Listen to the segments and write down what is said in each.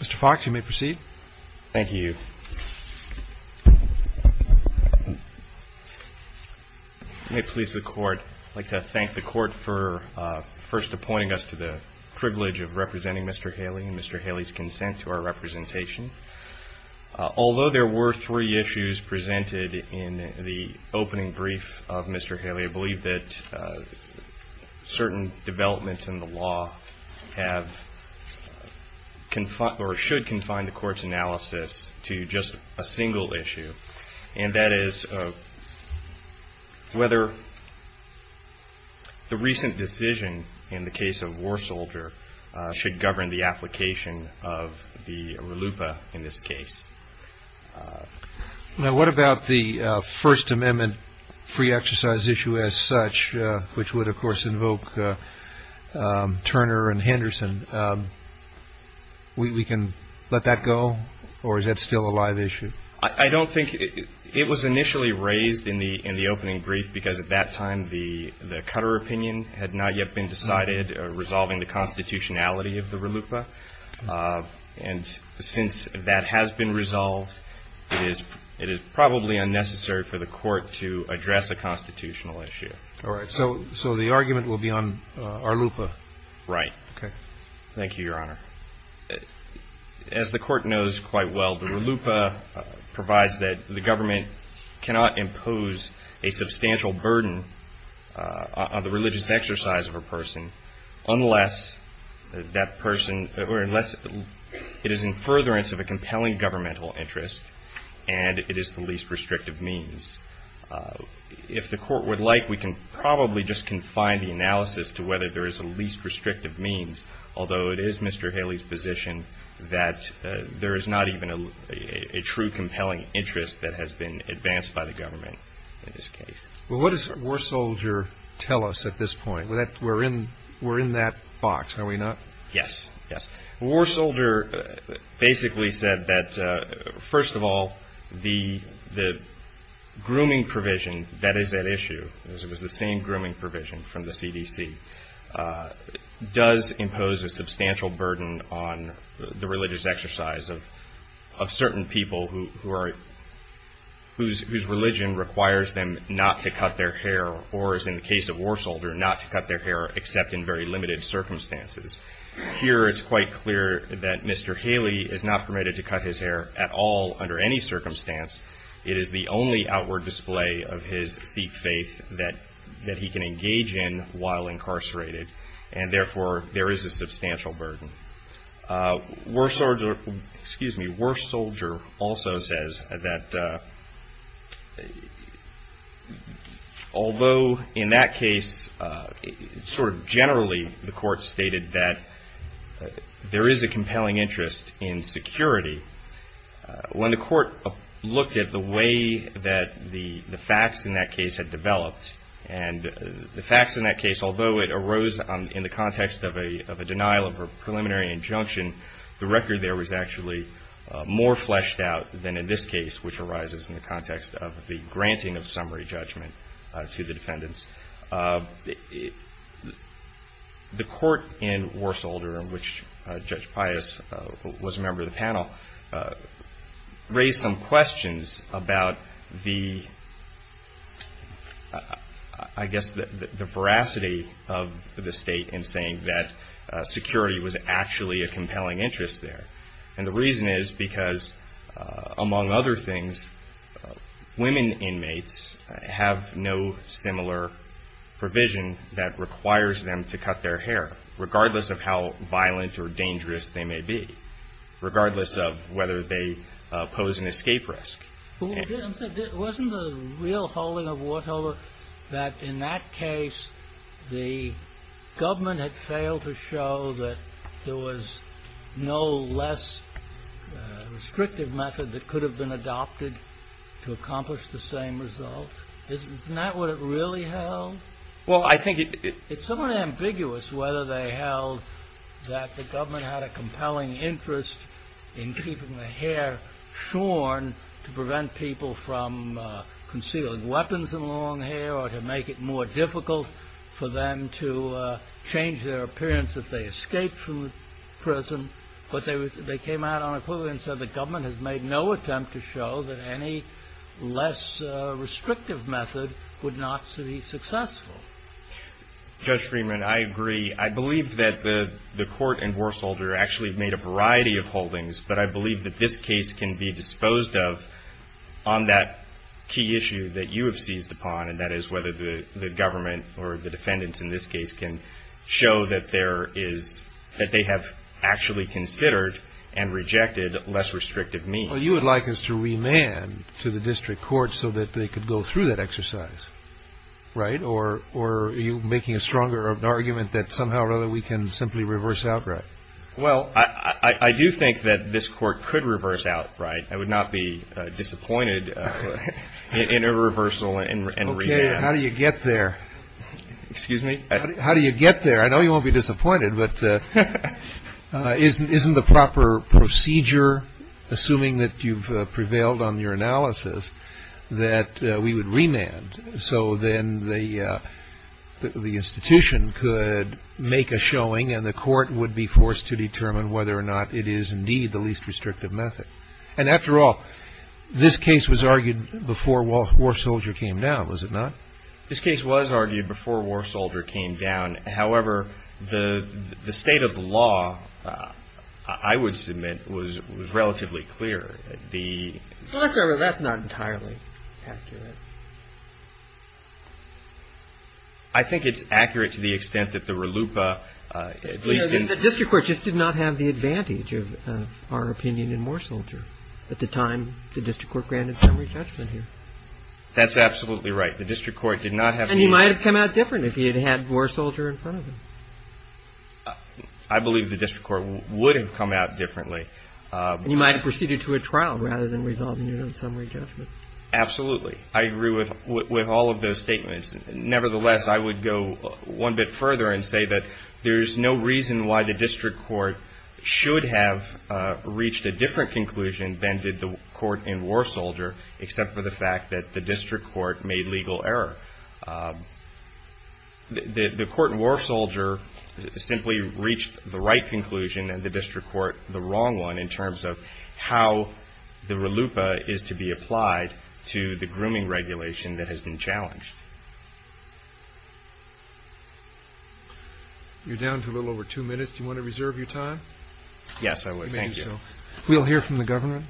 Mr. Fox, you may proceed. Thank you. I'd like to thank the Court for first appointing us to the privilege of representing Mr. Haley and Mr. Haley's consent to our representation. Although there were three issues presented in the opening brief of Mr. Haley, I believe that certain developments in the law should confine the Court's analysis to just a single issue, and that is whether the recent decision in the case of War Soldier should govern the application of the RLUIPA in this case. Now, what about the First Amendment free exercise issue as such, which would, of course, invoke Turner and Henderson? We can let that go, or is that still a live issue? I don't think it was initially raised in the opening brief, because at that time the Cutter opinion had not yet been decided, resolving the constitutionality of the RLUIPA. And since that has been resolved, it is probably unnecessary for the Court to address a constitutional issue. All right. So the argument will be on RLUIPA? Right. Thank you, Your Honor. As the Court knows quite well, the RLUIPA provides that the government cannot impose a substantial burden on the religious exercise of a person unless it is in furtherance of a compelling governmental interest and it is the least restrictive means. If the Court would like, we can probably just confine the analysis to whether there is a least restrictive means, although it is Mr. Haley's position that there is not even a true compelling interest that has been advanced by the government in this case. Well, what does War Soldier tell us at this point? We're in that box, are we not? Yes. Yes. War Soldier basically said that, first of all, the grooming provision that is at issue, it was the same grooming provision from the CDC, does impose a substantial burden on the religious exercise of certain people whose religion requires them not to cut their hair or, as in the case of War Soldier, not to cut their hair except in very limited circumstances. Here it's quite clear that Mr. Haley is not permitted to cut his hair at all under any circumstance. It is the only outward display of his Sikh faith that he can engage in while incarcerated and, therefore, there is a substantial burden. War Soldier also says that although in that case, sort of generally, the Court stated that there is a compelling interest in security, when the Court looked at the way that the facts in that case had developed and the facts in that case, although it arose in the context of a denial of a preliminary injunction, the record there was actually more fleshed out than in this case, which arises in the context of the granting of summary judgment to the defendants. The Court in War Soldier, in which Judge Pius was a member of the panel, raised some questions about the, I guess, the veracity of the State in saying that security was actually a compelling interest there. And the reason is because, among other things, women inmates have no similar provision that requires them to cut their hair, regardless of how violent or dangerous they may be, regardless of whether they pose an escape risk. But wasn't the real holding of War Soldier that in that case, the government had failed to show that there was no less restrictive method that could have been adopted to accomplish the same result? Isn't that what it really held? Well, I think it's somewhat ambiguous whether they held that the government had a compelling interest in keeping the hair shorn to prevent people from concealing weapons and long hair or to make it more difficult for them to change their appearance if they escaped from prison. But they came out on a quill and said the government has made no attempt to show that any less restrictive method would not be successful. Judge Freeman, I agree. I believe that the Court and War Soldier actually made a variety of holdings, but I believe that this case can be disposed of on that key issue that you have seized upon, and that is whether the government or the defendants in this case can show that there is, that they have actually considered and rejected less restrictive means. Well, you would like us to remand to the district court so that they could go through that exercise, right? Or are you making a stronger argument that somehow or other we can simply reverse outright? Well, I do think that this court could reverse outright. I would not be disappointed in a reversal and remand. How do you get there? Excuse me? How do you get there? I know you won't be disappointed, but isn't the proper procedure assuming that you've prevailed on your analysis, that we would remand so then the institution could make a showing and the court would be forced to determine whether or not it is indeed the least restrictive method? And after all, this case was argued before War Soldier came down, was it not? This case was argued before War Soldier came down. However, the state of the law, I would submit, was relatively clear. Well, that's not entirely accurate. I think it's accurate to the extent that the RLUIPA, at least in the district court, just did not have the advantage of our opinion in War Soldier. At the time, the district court granted summary judgment here. That's absolutely right. The district court did not have any. And he might have come out different if he had had War Soldier in front of him. I believe the district court would have come out differently. You might have proceeded to a trial rather than resolving it on summary judgment. Absolutely. I agree with all of those statements. Nevertheless, I would go one bit further and say that there is no reason why the district court should have reached a different conclusion than did the court in War Soldier, except for the fact that the district court made legal error. The court in War Soldier simply reached the right conclusion and the district court the wrong one in terms of how the RLUIPA is to be applied to the grooming regulation that has been challenged. You're down to a little over two minutes. Do you want to reserve your time? Yes, I would. Thank you. We'll hear from the governor.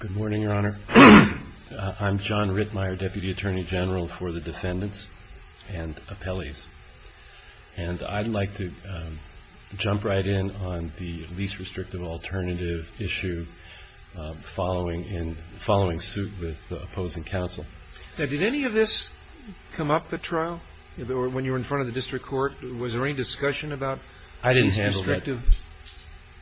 Good morning, Your Honor. I'm John Rittmeyer, Deputy Attorney General for the defendants and appellees. And I'd like to jump right in on the least restrictive alternative issue following in following suit with the opposing counsel. Did any of this come up at trial when you were in front of the district court? Was there any discussion about? I didn't handle that.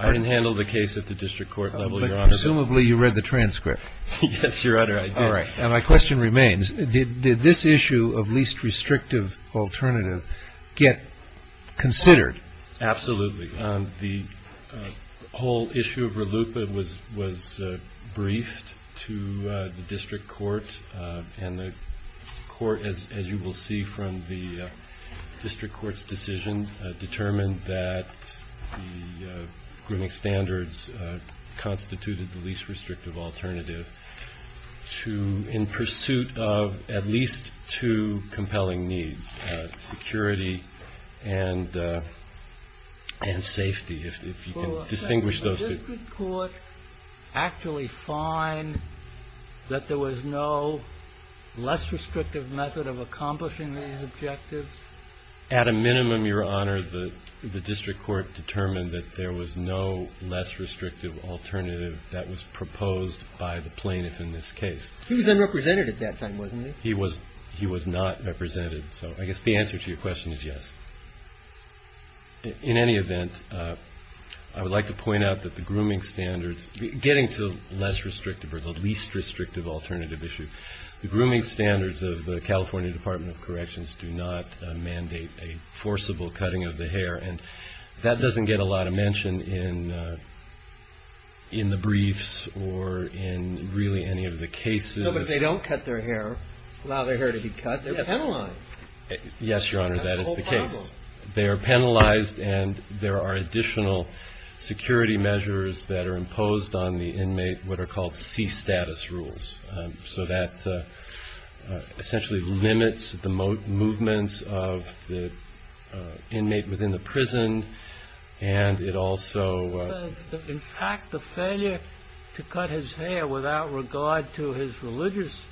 I didn't handle the case at the district court level, Your Honor. Presumably you read the transcript. Yes, Your Honor. All right. And my question remains, did this issue of least restrictive alternative get considered? Absolutely. The whole issue of RLUIPA was briefed to the district court. And the court, as you will see from the district court's decision, determined that the grooming standards constituted the least restrictive alternative to in pursuit of at least two compelling needs, security and safety. If you can distinguish those two. Did the district court actually find that there was no less restrictive method of accomplishing these objectives? At a minimum, Your Honor, the district court determined that there was no less restrictive alternative that was proposed by the plaintiff in this case. He was unrepresented at that time, wasn't he? He was not represented. So I guess the answer to your question is yes. In any event, I would like to point out that the grooming standards, getting to less restrictive or the least restrictive alternative issue, the grooming standards of the California Department of Corrections do not mandate a forcible cutting of the hair. And that doesn't get a lot of mention in the briefs or in really any of the cases. No, but if they don't cut their hair, allow their hair to be cut, they're penalized. Yes, Your Honor. That is the case. They are penalized and there are additional security measures that are imposed on the inmate, what are called C-status rules. So that essentially limits the movements of the inmate within the prison. And it also. In fact, the failure to cut his hair without regard to his religious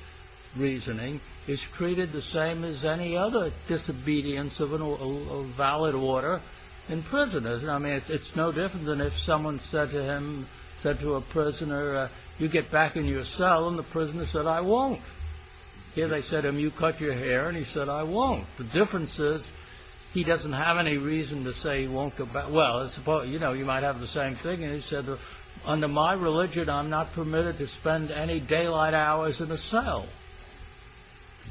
reasoning is treated the same as any other disobedience of a valid order in prisoners. I mean, it's no different than if someone said to him, said to a prisoner, you get back in your cell and the prisoner said, I won't. Here they said to him, you cut your hair. And he said, I won't. The difference is he doesn't have any reason to say he won't go back. Well, I suppose, you know, you might have the same thing. And he said, under my religion, I'm not permitted to spend any daylight hours in the cell.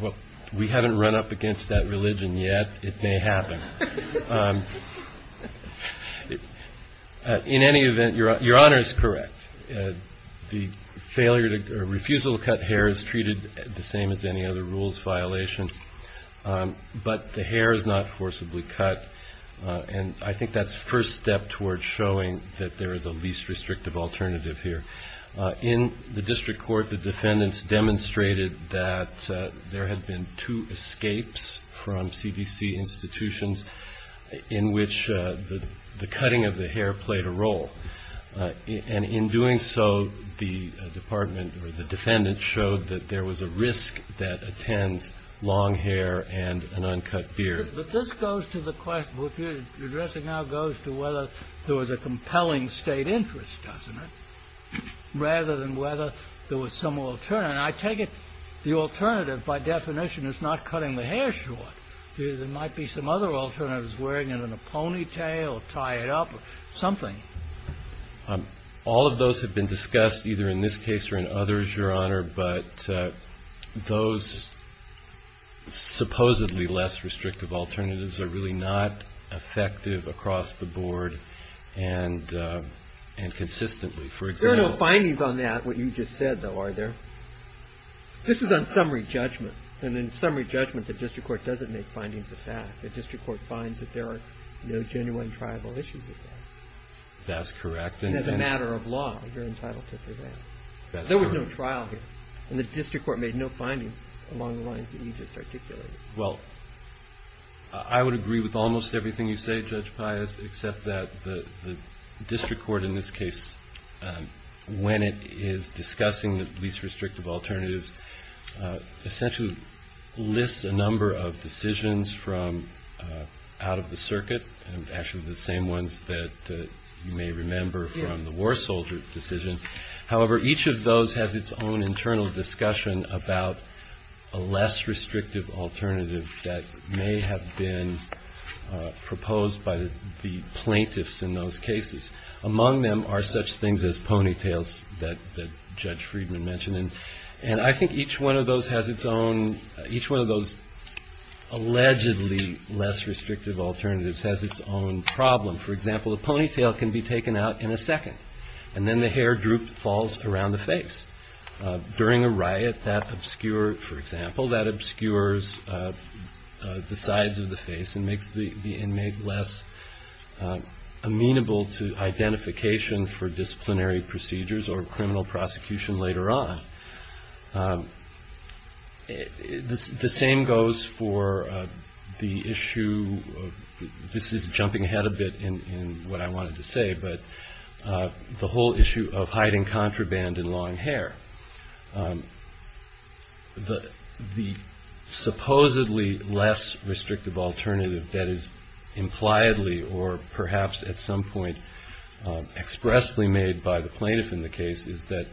Well, we haven't run up against that religion yet. It may happen. In any event, Your Honor is correct. The failure or refusal to cut hair is treated the same as any other rules violation. But the hair is not forcibly cut. And I think that's the first step towards showing that there is a least restrictive alternative here. In the district court, the defendants demonstrated that there had been two escapes from CDC institutions in which the cutting of the hair played a role. And in doing so, the department or the defendant showed that there was a risk that attends long hair and an uncut beard. But this goes to the question, which you're addressing now, goes to whether there was a compelling state interest, doesn't it? Rather than whether there was some alternative. And I take it the alternative, by definition, is not cutting the hair short. There might be some other alternatives, wearing it in a ponytail or tie it up or something. All of those have been discussed, either in this case or in others, Your Honor. But those supposedly less restrictive alternatives are really not effective across the board and consistently. There are no findings on that, what you just said, though, are there? This is on summary judgment. And in summary judgment, the district court doesn't make findings of that. The district court finds that there are no genuine tribal issues. That's correct. And as a matter of law, you're entitled to prevent. There was no trial here and the district court made no findings along the lines that you just articulated. Well, I would agree with almost everything you say, Judge Pius, except that the when it is discussing the least restrictive alternatives, essentially lists a number of decisions from out of the circuit and actually the same ones that you may remember from the war soldier decision. However, each of those has its own internal discussion about a less restrictive alternative that may have been proposed by the plaintiffs in those cases. Among them are such things as ponytails that Judge Friedman mentioned. And I think each one of those has its own, each one of those allegedly less restrictive alternatives has its own problem. For example, a ponytail can be taken out in a second and then the hair droop falls around the face. During a riot, that obscure, for example, that obscures the sides of the face and makes the inmate less amenable to identification for disciplinary procedures or criminal prosecution later on. The same goes for the issue of, this is jumping ahead a bit in what I wanted to say, but the whole issue of hiding contraband in long hair. The supposedly less restrictive alternative that is impliedly or perhaps at some point expressly made by the plaintiff in the case is that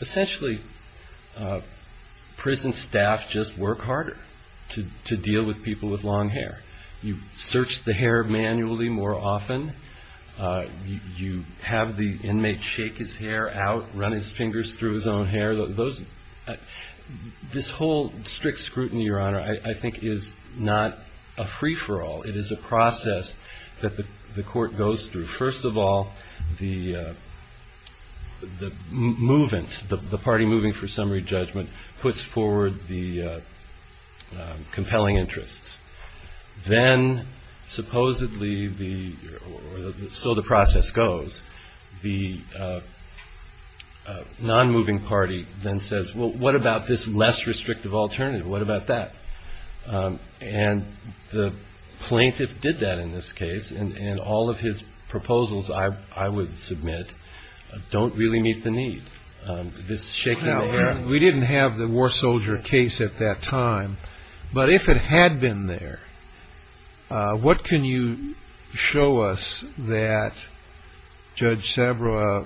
essentially prison staff just work harder to deal with people with long hair. You search the hair manually more often. You have the inmate shake his hair out, run his fingers through his own hair. This whole strict scrutiny, Your Honor, I think is not a free-for-all. It is a process that the court goes through. First of all, the movement, the party moving for summary judgment, puts forward the compelling interests. Then supposedly, or so the process goes, the non-moving party then says, well, what about this less restrictive alternative? What about that? And the plaintiff did that in this case, and all of his proposals, I would submit, don't really meet the need. This shaking the hair. We didn't have the war soldier case at that time, but if it had been there, what can you show us that Judge Sabra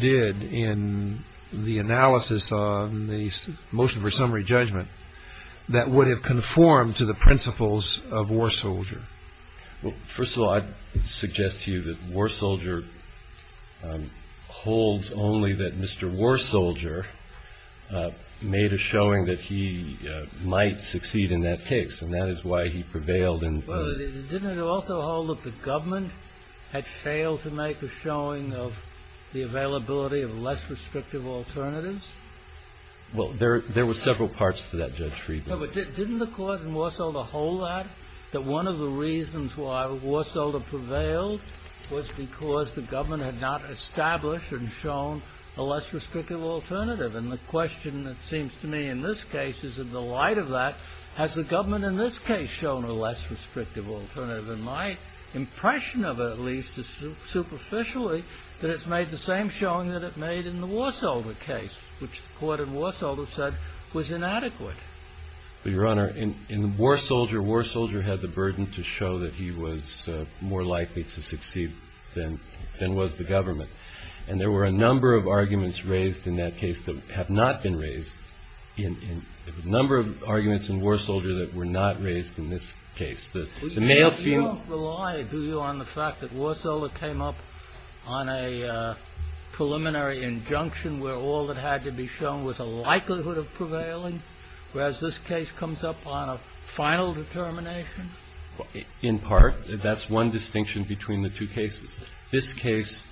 did in the analysis on the motion for summary judgment that would have conformed to the principles of war soldier? First of all, I'd suggest to you that war soldier holds only that Mr. War Soldier made a showing that he might succeed in that case. And that is why he prevailed in. Well, didn't it also hold that the government had failed to make a showing of the availability of less restrictive alternatives? Well, there were several parts to that, Judge Friedman. But didn't the court in War Soldier hold that, that one of the reasons why War Soldier prevailed was because the government had not established and shown a less restrictive alternative? And the question that seems to me in this case is, in the light of that, has the government in this case shown a less restrictive alternative? And my impression of it, at least, is superficially that it's made the same showing that it made in the War Soldier case, which the court in War Soldier said was inadequate. Your Honor, in War Soldier, War Soldier had the burden to show that he was more likely to succeed than was the government. And there were a number of arguments raised in that case that have not been raised in a number of arguments in War Soldier that were not raised in this case. You don't rely, do you, on the fact that War Soldier came up on a preliminary injunction where all that had to be shown was a likelihood of prevailing? Whereas this case comes up on a final determination? In part. That's one distinction between the two cases. This case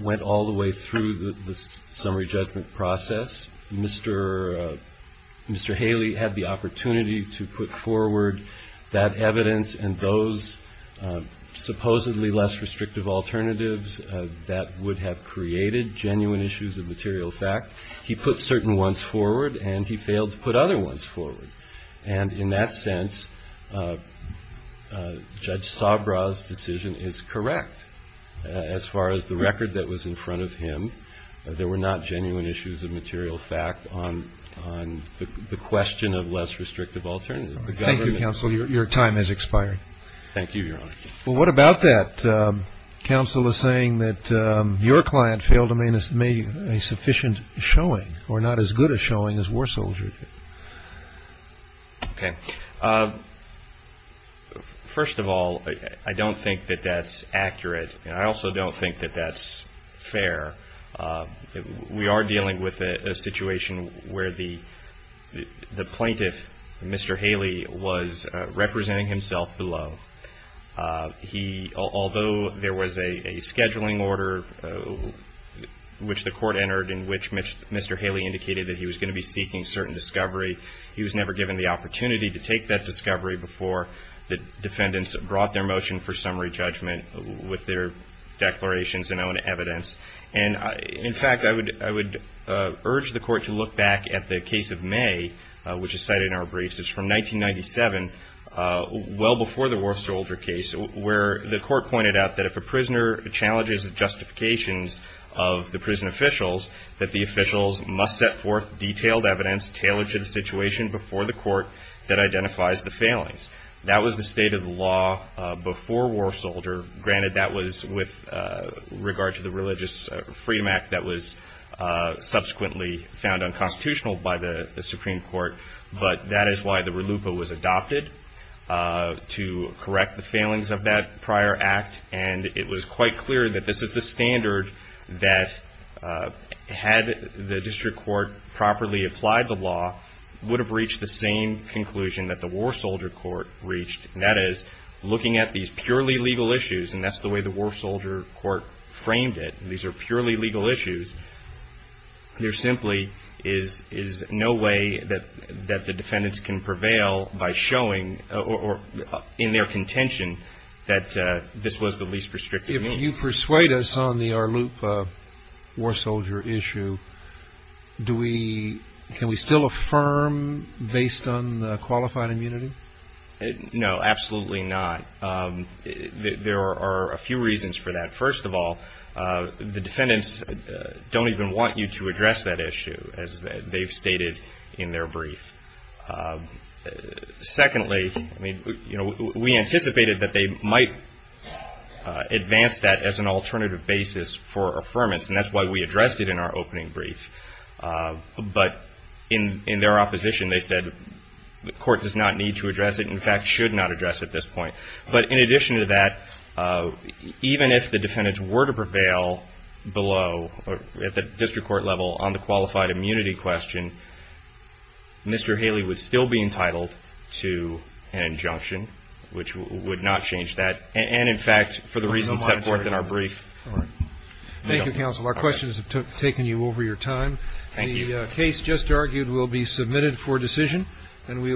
went all the way through the summary judgment process. Mr. Haley had the opportunity to put forward that evidence and those supposedly less restrictive alternatives that would have created genuine issues of material fact. He put certain ones forward and he failed to put other ones forward. And in that sense, Judge Sabra's decision is correct as far as the record that was in front of him. There were not genuine issues of material fact on the question of less restrictive alternatives. Thank you, counsel. Your time has expired. Thank you, Your Honor. Well, what about that? Counsel is saying that your client failed to make a sufficient showing or not as good a showing as War Soldier. Okay. First of all, I don't think that that's accurate and I also don't think that that's fair. We are dealing with a situation where the plaintiff, Mr. Haley, was representing himself below. Although there was a scheduling order which the court entered in which Mr. Haley indicated that he was going to be seeking certain discovery, he was never given the opportunity to take that discovery before the defendants brought their motion for summary judgment with their declarations and own evidence. And in fact, I would urge the court to look back at the case of May, which is cited in our briefs, is from 1997, well before the War Soldier case, where the court pointed out that if a prisoner challenges the justifications of the prison officials, that the officials must set forth detailed evidence tailored to the situation before the court that identifies the failings. That was the state of the law before War Soldier. Granted, that was with regard to the Religious Freedom Act that was subsequently found unconstitutional by the Supreme Court, but that is why the RELUPA was adopted to correct the failings of that prior act. And it was quite clear that this is the standard that, had the district court properly applied the law, would have reached the same conclusion that the War Soldier court reached, and that is looking at these purely legal issues, and that's the way the War Soldier court is looking at legal issues, there simply is no way that the defendants can prevail by showing, or in their contention, that this was the least restrictive means. If you persuade us on the RELUPA War Soldier issue, do we, can we still affirm based on the qualified immunity? No, absolutely not. There are a few reasons for that. First of all, the defendants don't even want you to address that issue, as they've stated in their brief. Secondly, we anticipated that they might advance that as an alternative basis for affirmance, and that's why we addressed it in our opening brief. But in their opposition, they said the court does not need to address it, in fact, should not address at this point. But in addition to that, even if the defendants were to prevail below, at the district court level, on the qualified immunity question, Mr. Haley would still be entitled to an injunction, which would not change that. And in fact, for the reasons set forth in our brief. Thank you, counsel. Our questions have taken you over your time. The case just argued will be submitted for decision, and we will.